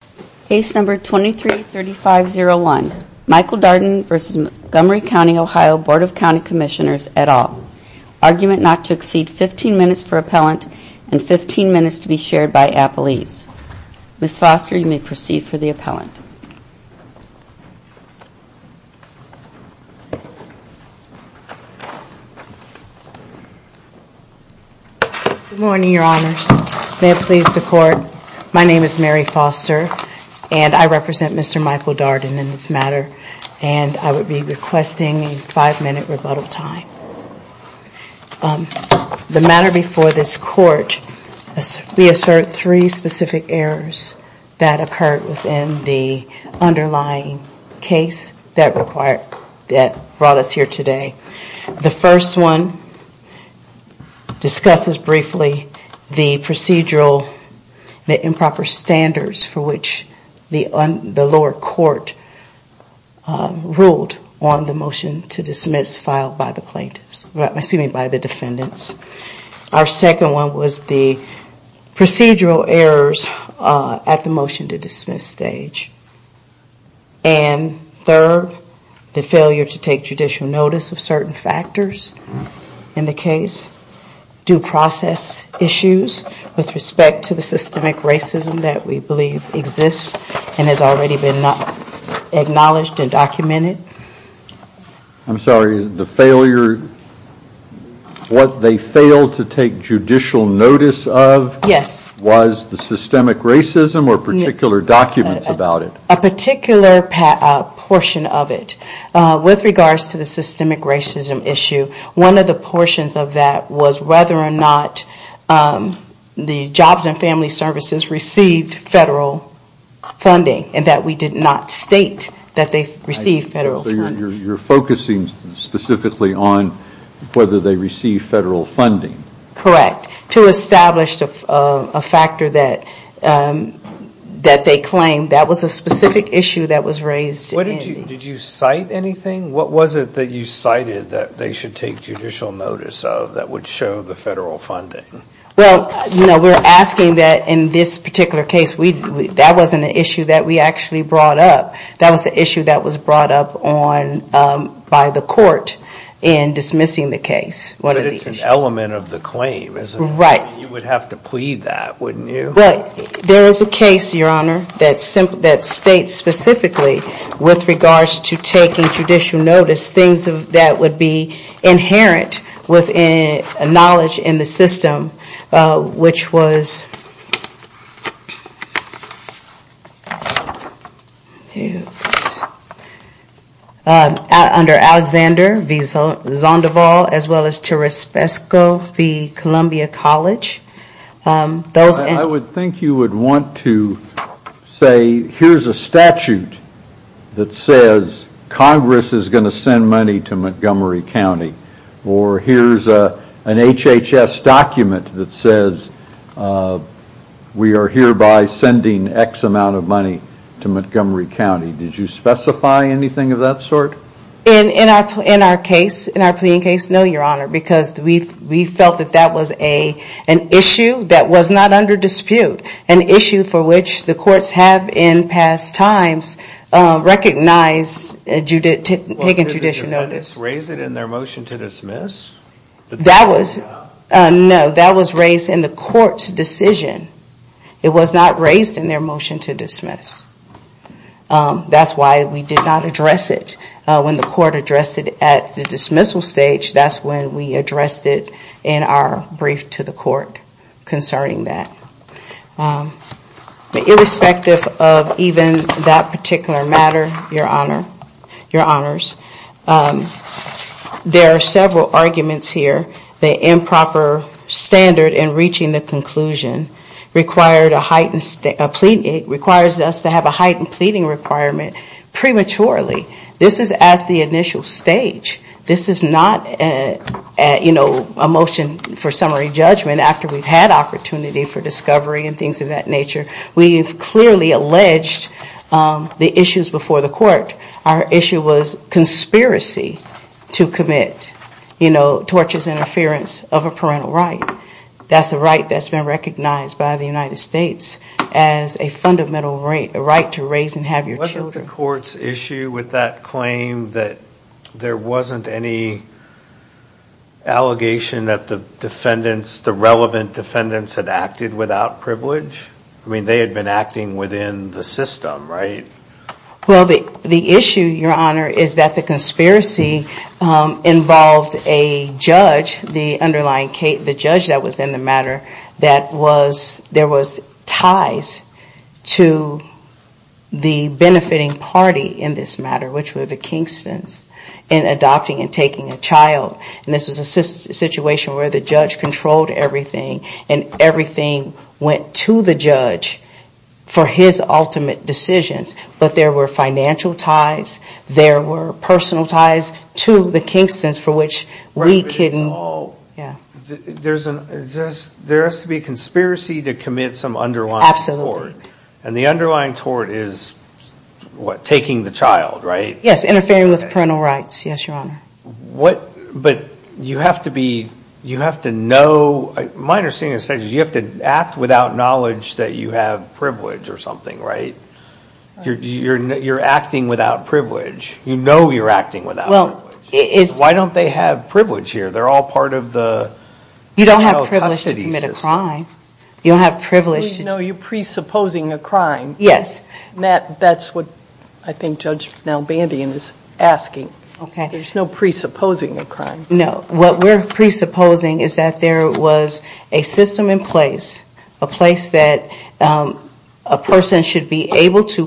Commissioners, et al. Argument not to exceed 15 minutes for appellant and 15 minutes to be shared by appellees. Ms. Foster, you may proceed for the appellant. Good morning, Your Honors. May it please the Court, my name is Mary Foster and I represent Mr. Michael Darden in this matter and I would be requesting a five minute rebuttal time. The matter before this Court, we assert three specific errors that occurred within the underlying case that brought us here today. The first one discusses briefly the procedural, the improper standards for which the lower court ruled on the motion to dismiss filed by the plaintiffs, excuse me, by the defendants. Our second one was the procedural errors at the motion to dismiss stage. And third, the failure to take judicial notice of certain factors in the case, due process issues with respect to the systemic racism that we believe exists and has already been acknowledged and documented. I'm sorry, the failure, what they failed to take judicial notice of was the systemic racism or particular documents about it? A particular portion of it. With regards to the systemic racism issue, one of the portions of that was whether or not the jobs and family services received federal funding and that we did not state that they received federal funding. So you're focusing specifically on whether they received federal funding? Correct. To establish a factor that they claimed. That was a specific issue that was raised. Did you cite anything? What was it that you cited that they should take judicial notice of that would show the federal funding? Well, we're asking that in this particular case, that wasn't an issue that we actually brought up. That was an issue that was brought up by the court in dismissing the case. But it's an element of the claim. You would have to plead that, wouldn't you? Well, there is a case, Your Honor, that states specifically with regards to taking judicial notice, things that would be inherent with knowledge in the system, which was under Alexander V. Zonderval as well as Teres Pesco v. Columbia College. I would think you would want to say, here's a statute that says Congress is going to send money to Montgomery County or here's an HHS document that says we are hereby sending X amount of money to Montgomery County. Did you specify anything of that sort? In our case, no, Your Honor, because we felt that that was an issue that was not under dispute. An issue for which the courts have in past times recognized taking judicial notice. Did the defendants raise it in their motion to dismiss? No, that was raised in the court's decision. It was not raised in their motion to dismiss. That's why we did not address it. When the court addressed it at the dismissal stage, that's when we addressed it in our brief to the court concerning that. Irrespective of even that particular matter, Your Honors, there are several arguments here. The improper standard in reaching the conclusion requires us to have a heightened pleading requirement prematurely. This is at the initial stage. This is not a motion for summary judgment after we've had opportunity for discovery and things of that nature. We've clearly alleged the issues before the court. Our issue was conspiracy to commit torturous interference of a parental right. That's a right that's been recognized by the United States as a fundamental right to raise and have your children. Wasn't the court's issue with that claim that there wasn't any allegation that the relevant defendants had acted without privilege? I mean, they had been acting within the system, right? Well, the issue, Your Honor, is that the conspiracy involved a judge, the underlying judge that was in the matter, that there was ties to the benefiting party in this matter, which were the Kingstons, in adopting and taking a child. And this was a situation where the judge controlled everything, and everything went to the judge for his ultimate decisions. But there were financial ties, there were personal ties to the Kingstons for which we couldn't... There has to be a conspiracy to commit some underlying tort. And the underlying tort is, what, taking the child, right? Yes, interfering with parental rights, yes, Your Honor. What, but you have to be, you have to know, my understanding is you have to act without knowledge that you have privilege or something, right? You're acting without privilege. You know you're acting without privilege. Well, it's... Why don't they have privilege here? They're all part of the... You don't have privilege to commit a crime. You don't have privilege to... No, you're presupposing a crime. Yes. That's what I think Judge Malbandian is asking. Okay. There's no presupposing a crime. No, what we're presupposing is that there was a system in place, a place that a person should be able to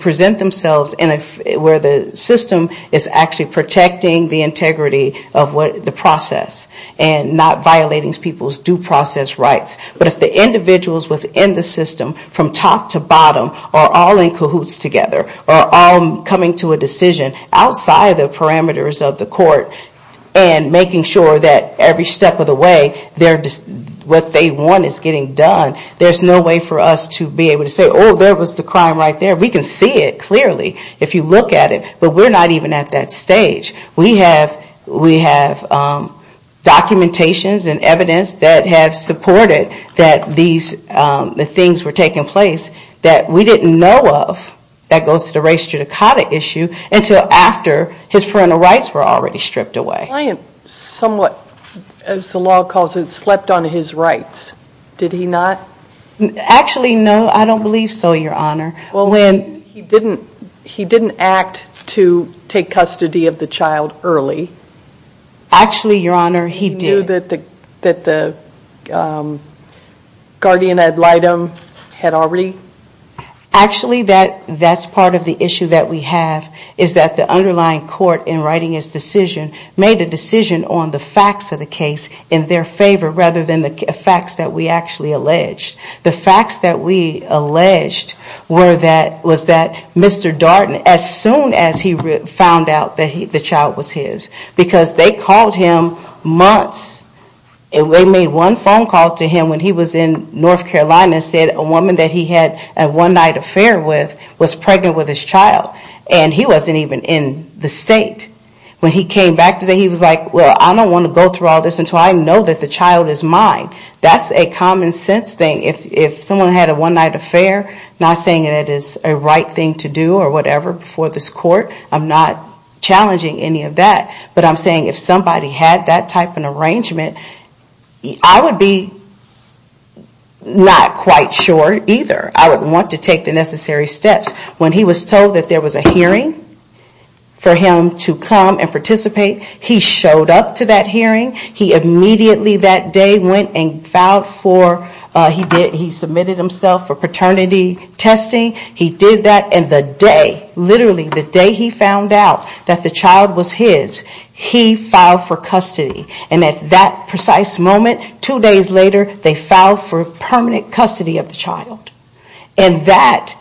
present themselves where the system is actually protecting the integrity of the process and not violating people's due process rights. But if the individuals within the system, from top to bottom, are all in cahoots together, are all coming to a decision outside the parameters of the court and making sure that every step of the way, what they want is getting done, there's no way for us to be able to say, oh, there was the crime right there. We can see it clearly if you look at it. But we're not even at that stage. We have documentations and evidence that have supported that these things were taking place that we didn't know of that goes to the race judicata issue until after his parental rights were already stripped away. The client somewhat, as the law calls it, slept on his rights. Did he not? Actually, no. I don't believe so, Your Honor. He didn't act to take custody of the child early? Actually, Your Honor, he did. He knew that the guardian ad litem had already? Actually, that's part of the issue that we have is that the underlying court, in writing its decision, made a decision on the facts of the case in their favor rather than the facts that we actually alleged. The facts that we alleged was that Mr. Darden, as soon as he found out that the child was his, because they called him months, they made one phone call to him when he was in North Carolina and said a woman that he had a one-night affair with was pregnant with his child. And he wasn't even in the state. When he came back today, he was like, well, I don't want to go through all this until I know that the child is mine. That's a common sense thing. If someone had a one-night affair, not saying it is a right thing to do or whatever before this court, I'm not challenging any of that. But I'm saying if somebody had that type of an arrangement, I would be not quite sure either. I wouldn't want to take the necessary steps. When he was told that there was a hearing for him to come and participate, he showed up to that hearing. He immediately that day went and filed for, he submitted himself for paternity testing. He did that. And the day, literally the day he found out that the child was his, he filed for custody. And at that precise moment, two days later, they filed for permanent custody of the child. And that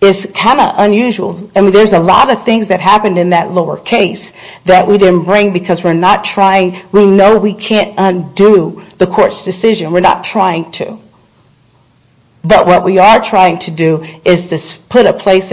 is kind of unusual. I mean, there's a lot of things that happened in that lower case that we didn't bring because we're not trying. We know we can't undo the court's decision. We're not trying to. But what we are trying to do is to put a place,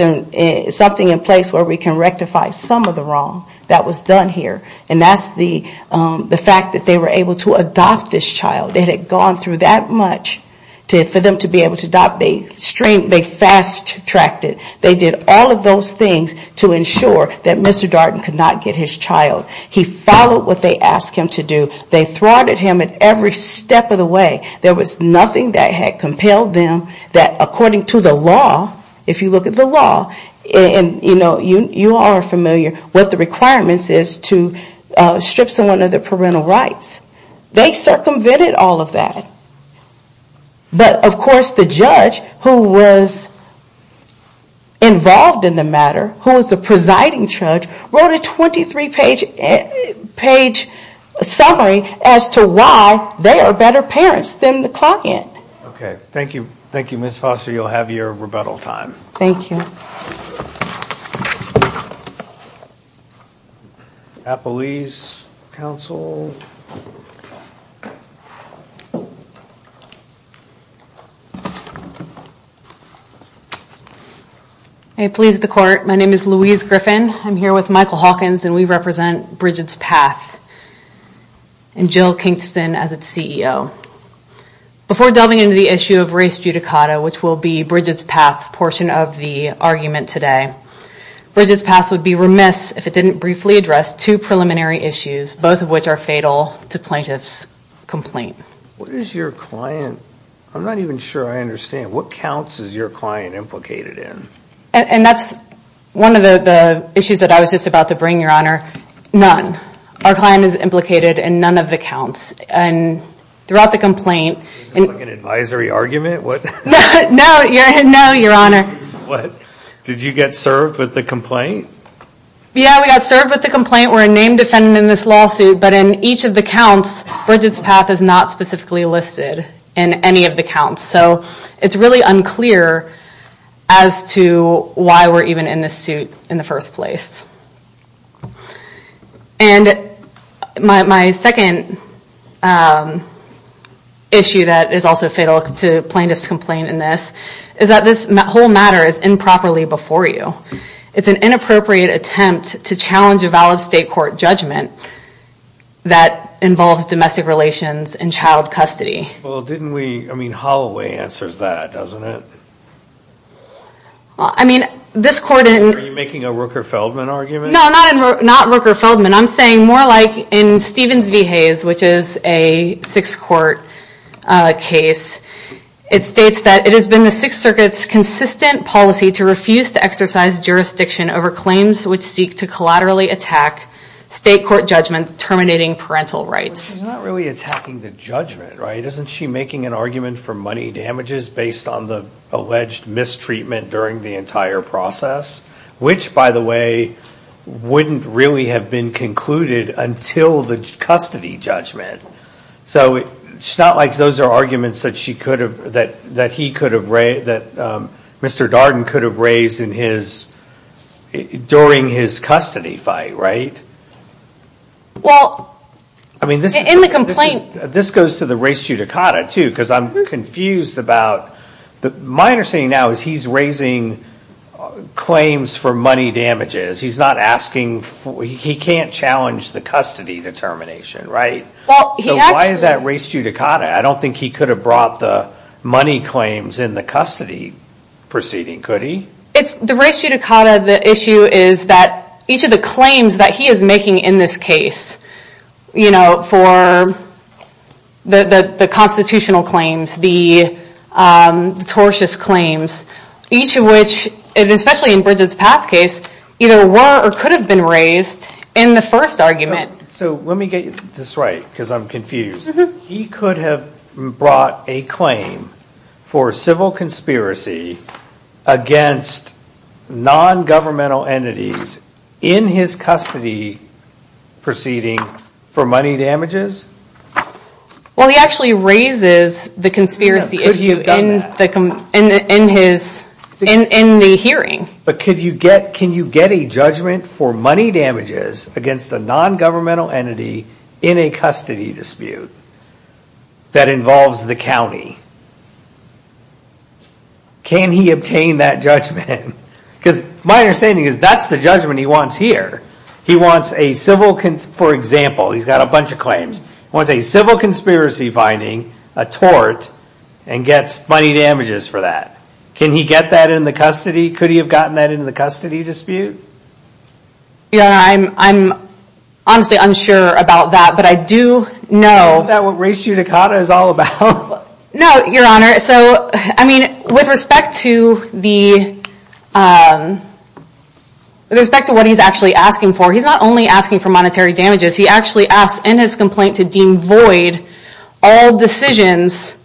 something in place where we can rectify some of the wrong that was done here. And that's the fact that they were able to adopt this child. They had gone through that much for them to be able to adopt. They fast-tracked it. They did all of those things to ensure that Mr. Darden could not get his child. He followed what they asked him to do. They thwarted him at every step of the way. There was nothing that had compelled them that according to the law, if you look at the law, and, you know, you are familiar with the requirements is to strip someone of their parental rights. They circumvented all of that. But, of course, the judge who was involved in the matter, who was the presiding judge, wrote a 23-page summary as to why they are better parents than the client. Okay. Thank you. Thank you, Ms. Foster. You'll have your rebuttal time. Thank you. Appellee's counsel. I please the court. My name is Louise Griffin. I'm here with Michael Hawkins, and we represent Bridget's Path and Jill Kingston as its CEO. Before delving into the issue of race judicata, which will be Bridget's Path portion of the argument today, Bridget's Path would be remiss if it didn't briefly address two preliminary issues, both of which are fatal to plaintiff's complaint. What is your client? I'm not even sure I understand. What counts is your client implicated in? And that's one of the issues that I was just about to bring, Your Honor. None. Our client is implicated in none of the counts. Throughout the complaint. Is this like an advisory argument? No, Your Honor. What? Did you get served with the complaint? Yeah, we got served with the complaint. We're a name defendant in this lawsuit. But in each of the counts, Bridget's Path is not specifically listed in any of the counts. So it's really unclear as to why we're even in this suit in the first place. And my second issue that is also fatal to plaintiff's complaint in this is that this whole matter is improperly before you. It's an inappropriate attempt to challenge a valid state court judgment that involves domestic relations and child custody. Well, didn't we, I mean Holloway answers that, doesn't it? Well, I mean, this court in Are you making a Rooker-Feldman argument? No, not Rooker-Feldman. I'm saying more like in Stevens v. Hayes, which is a Sixth Court case. It states that it has been the Sixth Circuit's consistent policy to refuse to exercise jurisdiction over claims which seek to collaterally attack state court judgment terminating parental rights. She's not really attacking the judgment, right? Isn't she making an argument for money damages based on the alleged mistreatment during the entire process? Which, by the way, wouldn't really have been concluded until the custody judgment. So, it's not like those are arguments that she could have, that he could have raised, that Mr. Darden could have raised in his, during his custody fight, right? Well, in the complaint This goes to the res judicata, too, because I'm confused about My understanding now is he's raising claims for money damages. He's not asking, he can't challenge the custody determination, right? So, why is that res judicata? I don't think he could have brought the money claims in the custody proceeding. Could he? It's the res judicata. The issue is that each of the claims that he is making in this case, for the constitutional claims, the tortious claims, each of which, especially in Bridget's path case, either were or could have been raised in the first argument. So, let me get this right, because I'm confused. He could have brought a claim for civil conspiracy against non-governmental entities in his custody proceeding for money damages? Well, he actually raises the conspiracy issue in the hearing. But can you get a judgment for money damages against a non-governmental entity in a custody dispute that involves the county? Can he obtain that judgment? Because my understanding is that's the judgment he wants here. He wants a civil, for example, he's got a bunch of claims. He wants a civil conspiracy finding, a tort, and gets money damages for that. Can he get that in the custody? Could he have gotten that in the custody dispute? Your Honor, I'm honestly unsure about that, but I do know... Isn't that what res judicata is all about? No, Your Honor. With respect to what he's actually asking for, he's not only asking for monetary damages, he actually asks in his complaint to deem void all decisions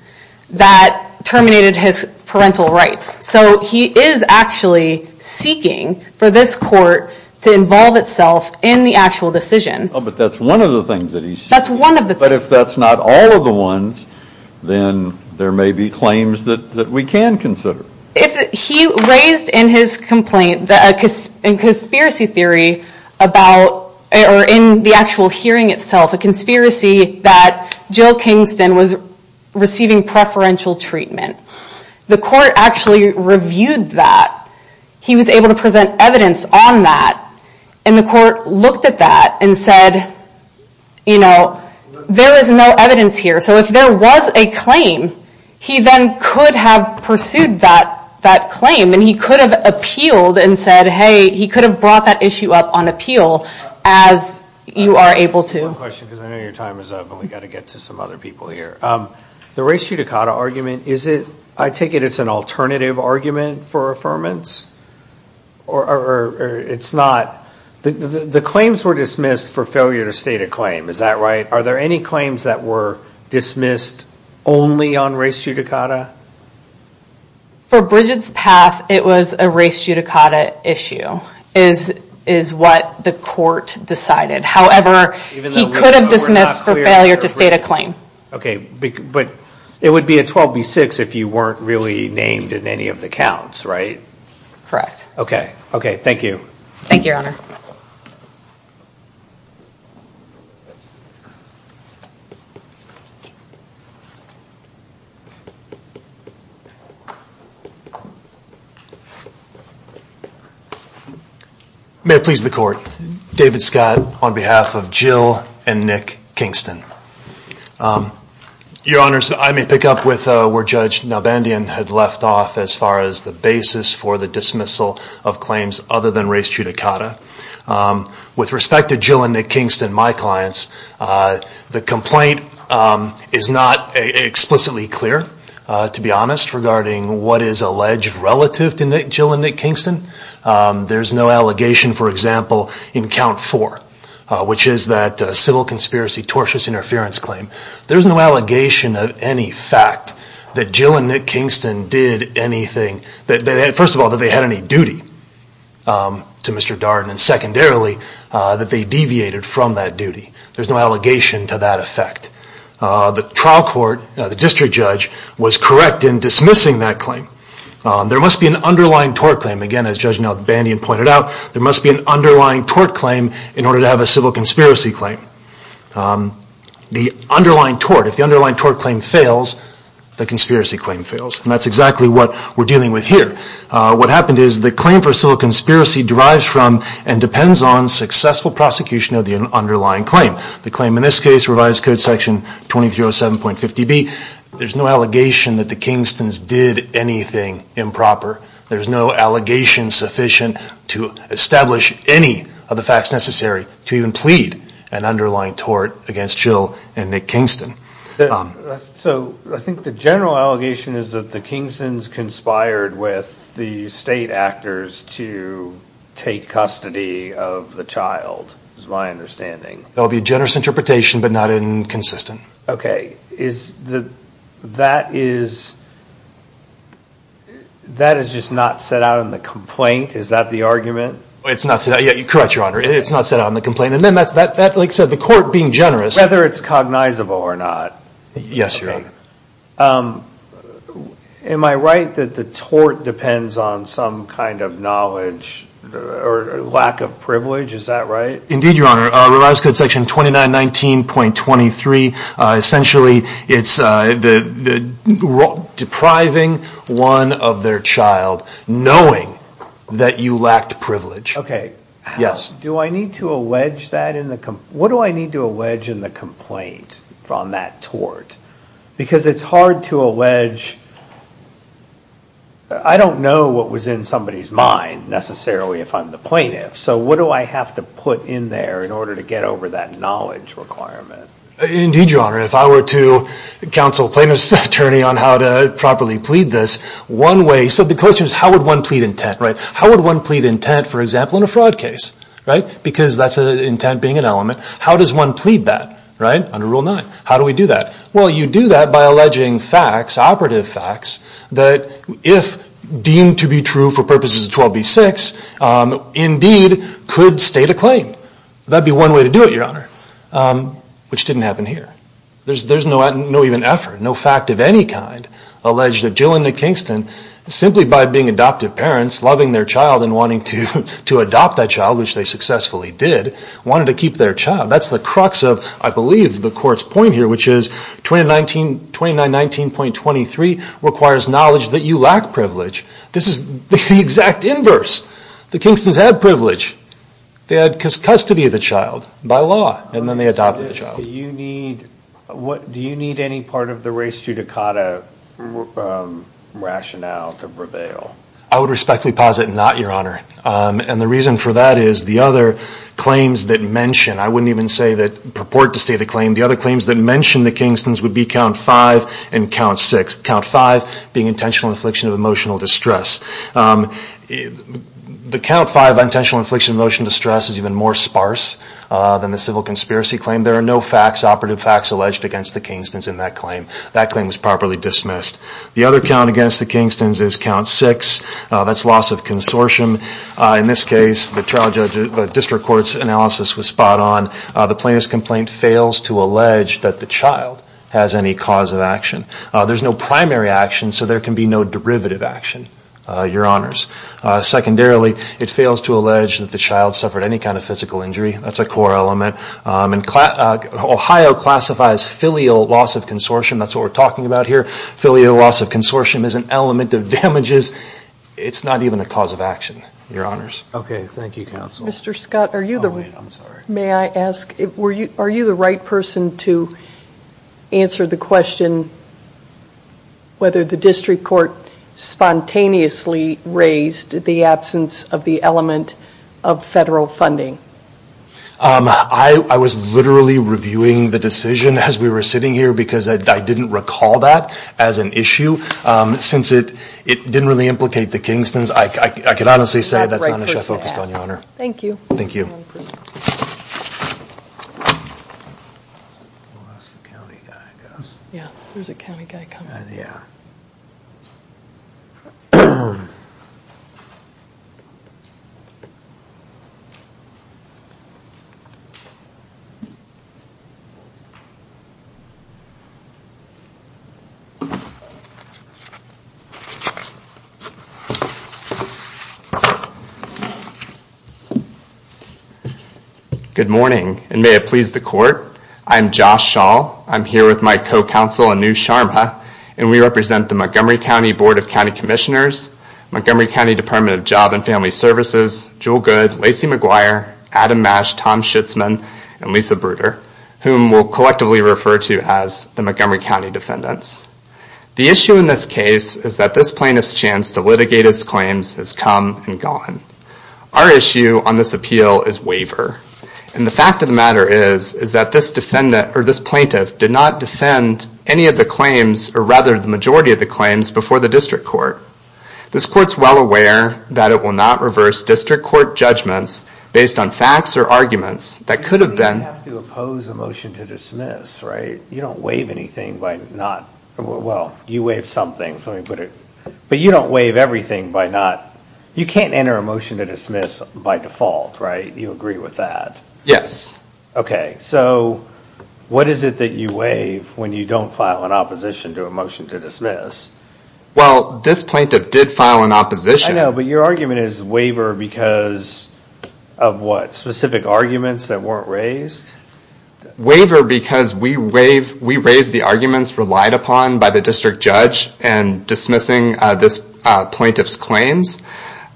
that terminated his parental rights. So he is actually seeking for this court to involve itself in the actual decision. But that's one of the things that he's seeking. But if that's not all of the ones, then there may be claims that we can consider. He raised in his complaint a conspiracy theory about, or in the actual hearing itself, a conspiracy that Jill Kingston was receiving preferential treatment. The court actually reviewed that. He was able to present evidence on that. And the court looked at that and said, you know, there is no evidence here. So if there was a claim, he then could have pursued that claim. And he could have appealed and said, hey, he could have brought that issue up on appeal, as you are able to. One question, because I know your time is up, and we've got to get to some other people here. The res judicata argument, is it... I take it it's an alternative argument for affirmance? Or it's not... The claims were dismissed for failure to state a claim. Is that right? Are there any claims that were dismissed only on res judicata? For Bridget's path, it was a res judicata issue, is what the court decided. However, he could have dismissed for failure to state a claim. Okay, but it would be a 12 v. 6 if you weren't really named in any of the counts, right? Correct. Okay, thank you. Thank you, Your Honor. May it please the Court. David Scott on behalf of Jill and Nick Kingston. Your Honors, I may pick up where Judge Nalbandian had left off as far as the basis for the dismissal of claims other than res judicata. With respect to Jill and Nick Kingston, my clients, the complaint is not explicitly clear, to be honest, regarding what is alleged relative to Jill and Nick Kingston. There's no allegation, for example, in Count 4, which is that civil conspiracy tortious interference claim. There's no allegation of any fact that Jill and Nick Kingston did anything... First of all, that they had any duty to Mr. Darden, and secondarily, that they deviated from that duty. There's no allegation to that effect. The trial court, the district judge, was correct in dismissing that claim. There must be an underlying tort claim. Again, as Judge Nalbandian pointed out, there must be an underlying tort claim in order to have a civil conspiracy claim. The underlying tort, if the underlying tort claim fails, the conspiracy claim fails. And that's exactly what we're dealing with here. What happened is the claim for civil conspiracy derives from and depends on successful prosecution of the underlying claim. The claim in this case, Revised Code Section 2307.50b, there's no allegation that the Kingstons did anything improper. There's no allegation sufficient to establish any of the facts necessary to even plead an underlying tort against Jill and Nick Kingston. So I think the general allegation is that the Kingstons conspired with the state actors to take custody of the child, is my understanding. That would be a generous interpretation, but not inconsistent. OK. That is just not set out in the complaint? Is that the argument? It's not set out. Correct, Your Honor. It's not set out in the complaint. And then, like I said, the court being generous. Whether it's cognizable or not. Yes, Your Honor. Am I right that the tort depends on some kind of knowledge or lack of privilege? Is that right? Indeed, Your Honor. Revised Code Section 2919.23, essentially it's depriving one of their child, knowing that you lacked privilege. OK. Yes. Do I need to allege that in the complaint? What do I need to allege in the complaint on that tort? Because it's hard to allege. I don't know what was in somebody's mind, necessarily, if I'm the plaintiff. So what do I have to put in there in order to get over that knowledge requirement? Indeed, Your Honor. If I were to counsel a plaintiff's attorney on how to properly plead this, one way. So the question is how would one plead intent, right? How would one plead intent, for example, in a fraud case, right? Because that's intent being an element. How does one plead that, right? Under Rule 9. How do we do that? Well, you do that by alleging facts, operative facts, that if deemed to be true for purposes of 12b-6, indeed could state a claim. That would be one way to do it, Your Honor. Which didn't happen here. There's no even effort, no fact of any kind, alleged that Jill and Nick Kingston, simply by being adoptive parents, loving their child and wanting to adopt that child, which they successfully did, wanted to keep their child. That's the crux of, I believe, the Court's point here, which is 2919.23 requires knowledge that you lack privilege. This is the exact inverse. The Kingstons had privilege. They had custody of the child by law, and then they adopted the child. Do you need any part of the race judicata rationale to prevail? I would respectfully posit not, Your Honor. And the reason for that is the other claims that mention, I wouldn't even say that purport to state a claim, the other claims that mention the Kingstons would be Count 5 and Count 6. Count 5 being intentional infliction of emotional distress. The Count 5, intentional infliction of emotional distress, is even more sparse than the civil conspiracy claim. There are no facts, operative facts, alleged against the Kingstons in that claim. That claim is properly dismissed. The other count against the Kingstons is Count 6. That's loss of consortium. In this case, the District Court's analysis was spot on. The plaintiff's complaint fails to allege that the child has any cause of action. There's no primary action, so there can be no derivative action, Your Honors. Secondarily, it fails to allege that the child suffered any kind of physical injury. That's a core element. Ohio classifies filial loss of consortium. That's what we're talking about here. Filial loss of consortium is an element of damages. It's not even a cause of action, Your Honors. Okay, thank you, Counsel. Mr. Scott, are you the right person to answer the question whether the District Court spontaneously raised the absence of the element of federal funding? I was literally reviewing the decision as we were sitting here because I didn't recall that as an issue. Since it didn't really implicate the Kingstons, I can honestly say that's not an issue I focused on, Your Honor. Thank you. Thank you. Good morning, and may it please the Court. I'm Josh Shaw. I'm here with my co-counsel, Anu Sharma, and we represent the Montgomery County Board of County Commissioners, Montgomery County Department of Job and Family Services, Joel Good, Lacey McGuire, Adam Masch, Tom Schutzman, and Lisa Bruder, whom we'll collectively refer to as the Montgomery County defendants. The issue in this case is that this plaintiff's chance to litigate his claims has come and gone. Our issue on this appeal is waiver, and the fact of the matter is that this plaintiff did not defend any of the claims, or rather the majority of the claims, before the District Court. This Court's well aware that it will not reverse District Court judgments based on facts or arguments that could have been... You have to oppose a motion to dismiss, right? You don't waive anything by not... Well, you waive something, so let me put it... But you don't waive everything by not... You can't enter a motion to dismiss by default, right? You agree with that? Yes. Okay, so what is it that you waive when you don't file an opposition to a motion to dismiss? Well, this plaintiff did file an opposition... I know, but your argument is waiver because of what? Specific arguments that weren't raised? Waiver because we raised the arguments relied upon by the District Judge in dismissing this plaintiff's claims,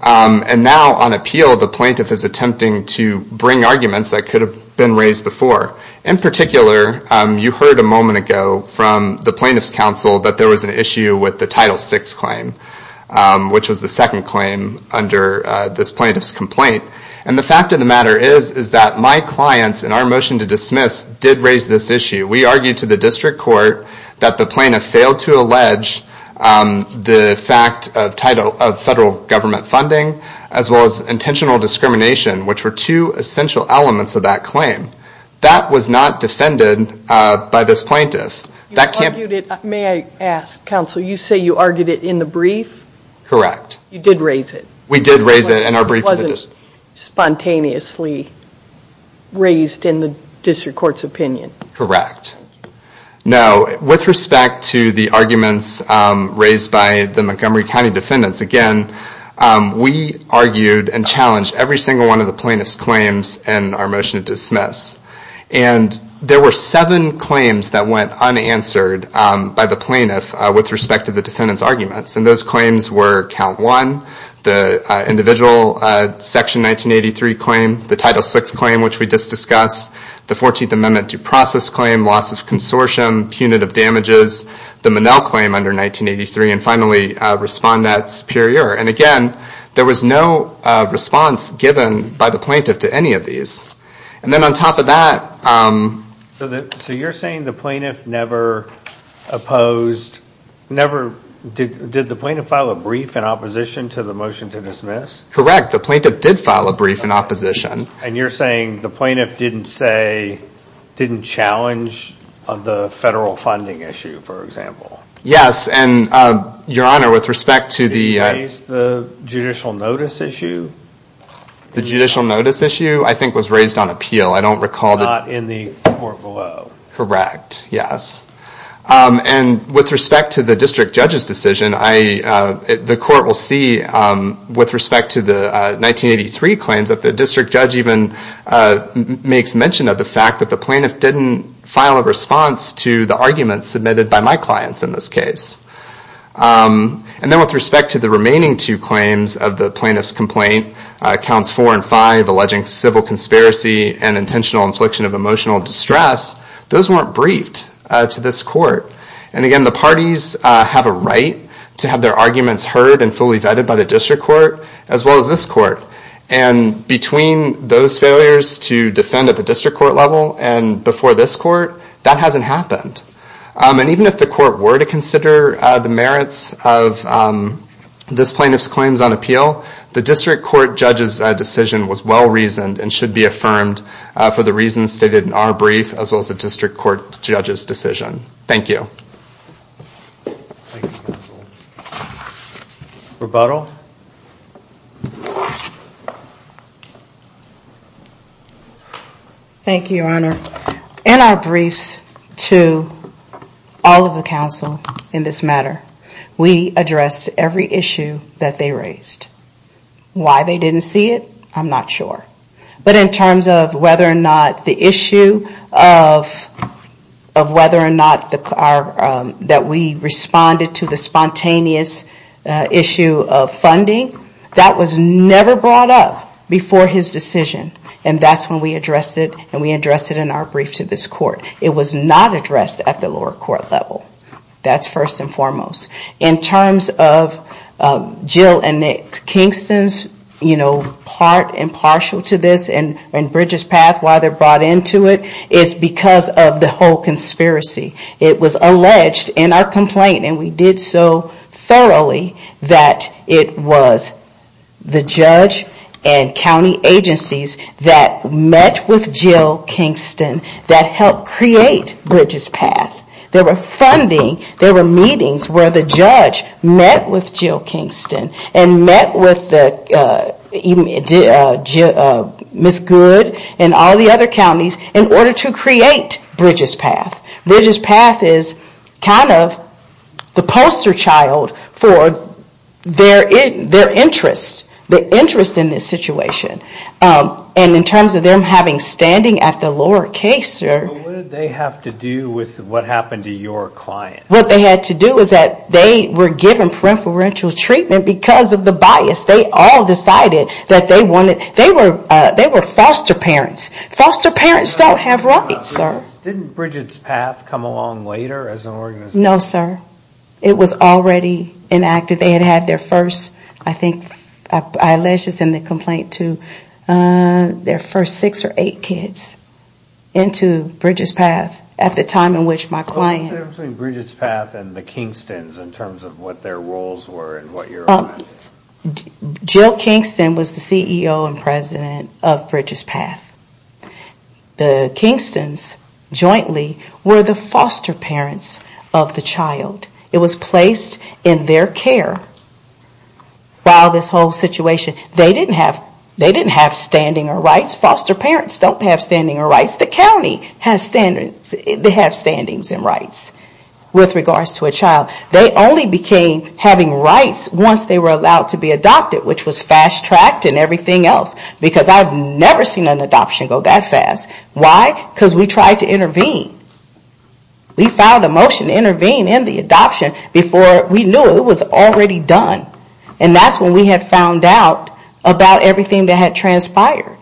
and now on appeal the plaintiff is attempting to bring arguments that could have been raised before. In particular, you heard a moment ago from the Plaintiff's Counsel that there was an issue with the Title VI claim, which was the second claim under this plaintiff's complaint. And the fact of the matter is that my clients in our motion to dismiss did raise this issue. We argued to the District Court that the plaintiff failed to allege the fact of federal government funding as well as intentional discrimination, which were two essential elements of that claim. That was not defended by this plaintiff. May I ask, Counsel, you say you argued it in the brief? Correct. You did raise it? We did raise it in our brief to the District Court. It wasn't spontaneously raised in the District Court's opinion? Correct. Now, with respect to the arguments raised by the Montgomery County defendants, again, we argued and challenged every single one of the plaintiff's claims in our motion to dismiss. And there were seven claims that went unanswered by the plaintiff with respect to the defendant's arguments. And those claims were Count 1, the individual Section 1983 claim, the Title VI claim, which we just discussed, the 14th Amendment due process claim, loss of consortium, punitive damages, the Monell claim under 1983, and finally Respondent Superior. And again, there was no response given by the plaintiff to any of these. And then on top of that. So you're saying the plaintiff never opposed, never, did the plaintiff file a brief in opposition to the motion to dismiss? Correct. The plaintiff did file a brief in opposition. And you're saying the plaintiff didn't say, didn't challenge the federal funding issue, for example? Yes. And, Your Honor, with respect to the... Did he raise the judicial notice issue? The judicial notice issue, I think, was raised on appeal. I don't recall... Not in the court below. Correct. Yes. And with respect to the district judge's decision, the court will see, with respect to the 1983 claims, that the district judge even makes mention of the fact that the plaintiff didn't file a response to the arguments submitted by my clients in this case. And then with respect to the remaining two claims of the plaintiff's complaint, counts four and five, alleging civil conspiracy and intentional infliction of emotional distress, those weren't briefed to this court. And again, the parties have a right to have their arguments heard and fully vetted by the district court, as well as this court. And between those failures to defend at the district court level and before this court, that hasn't happened. And even if the court were to consider the merits of this plaintiff's claims on appeal, the district court judge's decision was well-reasoned and should be affirmed for the reasons stated in our brief, as well as the district court judge's decision. Thank you. Rebuttal? Thank you, Your Honor. In our briefs to all of the counsel in this matter, we address every issue that they raised. Why they didn't see it, I'm not sure. But in terms of whether or not the issue of whether or not that we responded to the spontaneous issue of funding, that was never brought up before his decision. And that's when we addressed it, and we addressed it in our brief to this court. It was not addressed at the lower court level. That's first and foremost. In terms of Jill and Nick Kingston's, you know, part and partial to this, and Bridget's path, why they're brought into it, it's because of the whole conspiracy. It was alleged in our complaint, and we did so thoroughly, that it was the judge and county agencies that met with Jill Kingston that helped create Bridget's path. There were funding, there were meetings where the judge met with Jill Kingston and met with Ms. Good and all the other counties in order to create Bridget's path. Bridget's path is kind of the poster child for their interests, the interest in this situation. And in terms of them having standing at the lower case, sir. What did they have to do with what happened to your client? What they had to do was that they were given preferential treatment because of the bias. They all decided that they wanted, they were foster parents. Foster parents don't have rights, sir. Didn't Bridget's path come along later as an organization? No, sir. It was already enacted. They had had their first, I think, I alleged this in the complaint too, their first six or eight kids into Bridget's path at the time in which my client. I'm saying Bridget's path and the Kingstons in terms of what their roles were and what your... Jill Kingston was the CEO and president of Bridget's path. The Kingstons jointly were the foster parents of the child. It was placed in their care while this whole situation. They didn't have standing or rights. Foster parents don't have standing or rights. The county has standings and rights with regards to a child. They only became having rights once they were allowed to be adopted, which was fast-tracked and everything else. Because I've never seen an adoption go that fast. Why? Because we tried to intervene. We filed a motion to intervene in the adoption before we knew it was already done. And that's when we had found out about everything that had transpired.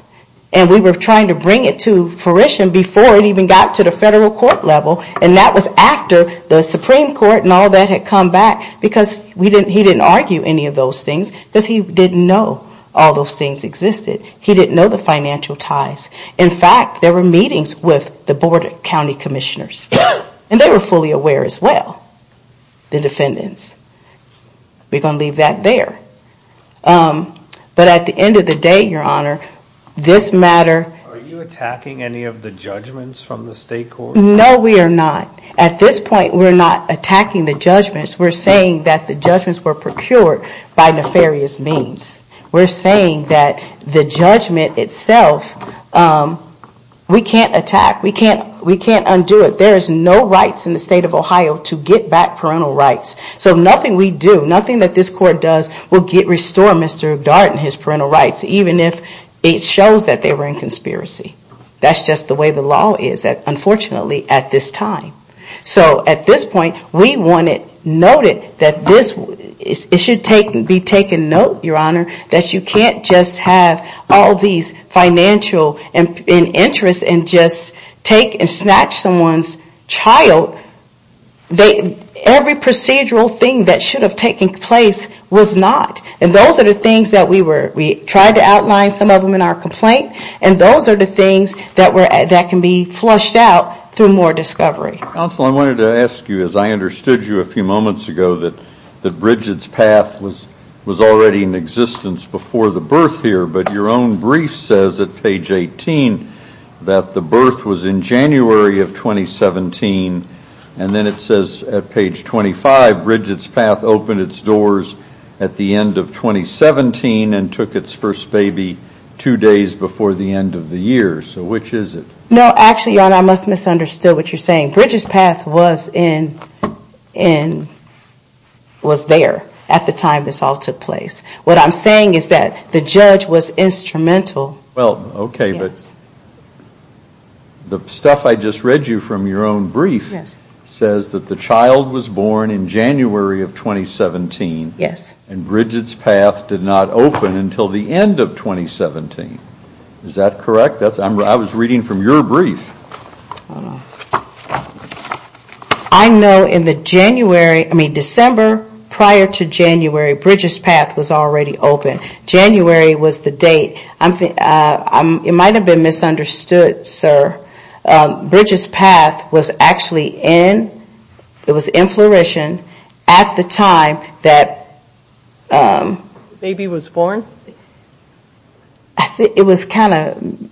And we were trying to bring it to fruition before it even got to the federal court level. And that was after the Supreme Court and all that had come back. Because he didn't argue any of those things. Because he didn't know all those things existed. He didn't know the financial ties. In fact, there were meetings with the board of county commissioners. And they were fully aware as well, the defendants. We're going to leave that there. But at the end of the day, Your Honor, this matter... Are you attacking any of the judgments from the state court? No, we are not. At this point, we're not attacking the judgments. We're saying that the judgments were procured by nefarious means. We're saying that the judgment itself, we can't attack. We can't undo it. There is no rights in the state of Ohio to get back parental rights. So nothing we do, nothing that this court does will restore Mr. Dart and his parental rights. Even if it shows that they were in conspiracy. That's just the way the law is, unfortunately, at this time. So at this point, we want it noted that this... It should be taken note, Your Honor, that you can't just have all these financial interests and just take and snatch someone's child. Every procedural thing that should have taken place was not. And those are the things that we were... We tried to outline some of them in our complaint. And those are the things that can be flushed out through more discovery. Counsel, I wanted to ask you, as I understood you a few moments ago, that Bridget's Path was already in existence before the birth here. But your own brief says at page 18 that the birth was in January of 2017. And then it says at page 25, Bridget's Path opened its doors at the end of 2017 and took its first baby two days before the end of the year. So which is it? No, actually, Your Honor, I must have misunderstood what you're saying. Bridget's Path was there at the time this all took place. What I'm saying is that the judge was instrumental. Well, okay, but the stuff I just read you from your own brief says that the child was born in January of 2017. Yes. And Bridget's Path did not open until the end of 2017. Is that correct? I was reading from your brief. I know in the January, I mean December prior to January, Bridget's Path was already open. January was the date. It might have been misunderstood, sir. Bridget's Path was actually in, it was in flourishing at the time that The baby was born? It was kind of,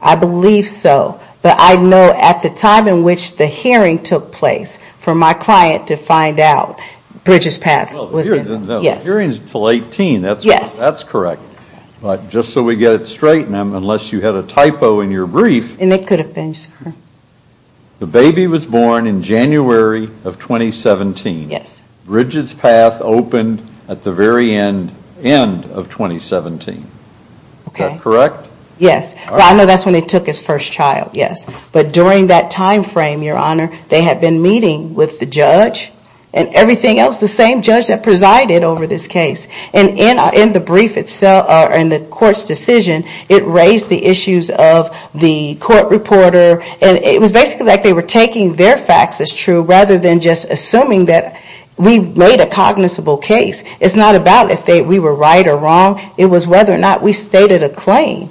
I believe so. But I know at the time in which the hearing took place for my client to find out, Bridget's Path was in. The hearing is until 18. Yes. That's correct. But just so we get it straight, unless you had a typo in your brief. And it could have been, sir. The baby was born in January of 2017. Bridget's Path opened at the very end of 2017. Okay. Is that correct? Yes. Well, I know that's when they took his first child, yes. But during that time frame, Your Honor, they had been meeting with the judge and everything else, the same judge that presided over this case. And in the brief itself, in the court's decision, it raised the issues of the court reporter. And it was basically like they were taking their facts as true rather than just assuming that we made a cognizable case. It's not about if we were right or wrong. It was whether or not we stated a claim,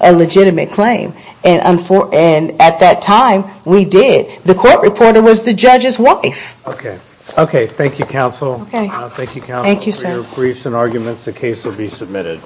a legitimate claim. And at that time, we did. The court reporter was the judge's wife. Okay. Okay. Thank you, counsel. Okay. Thank you, sir. For your briefs and arguments, the case will be submitted.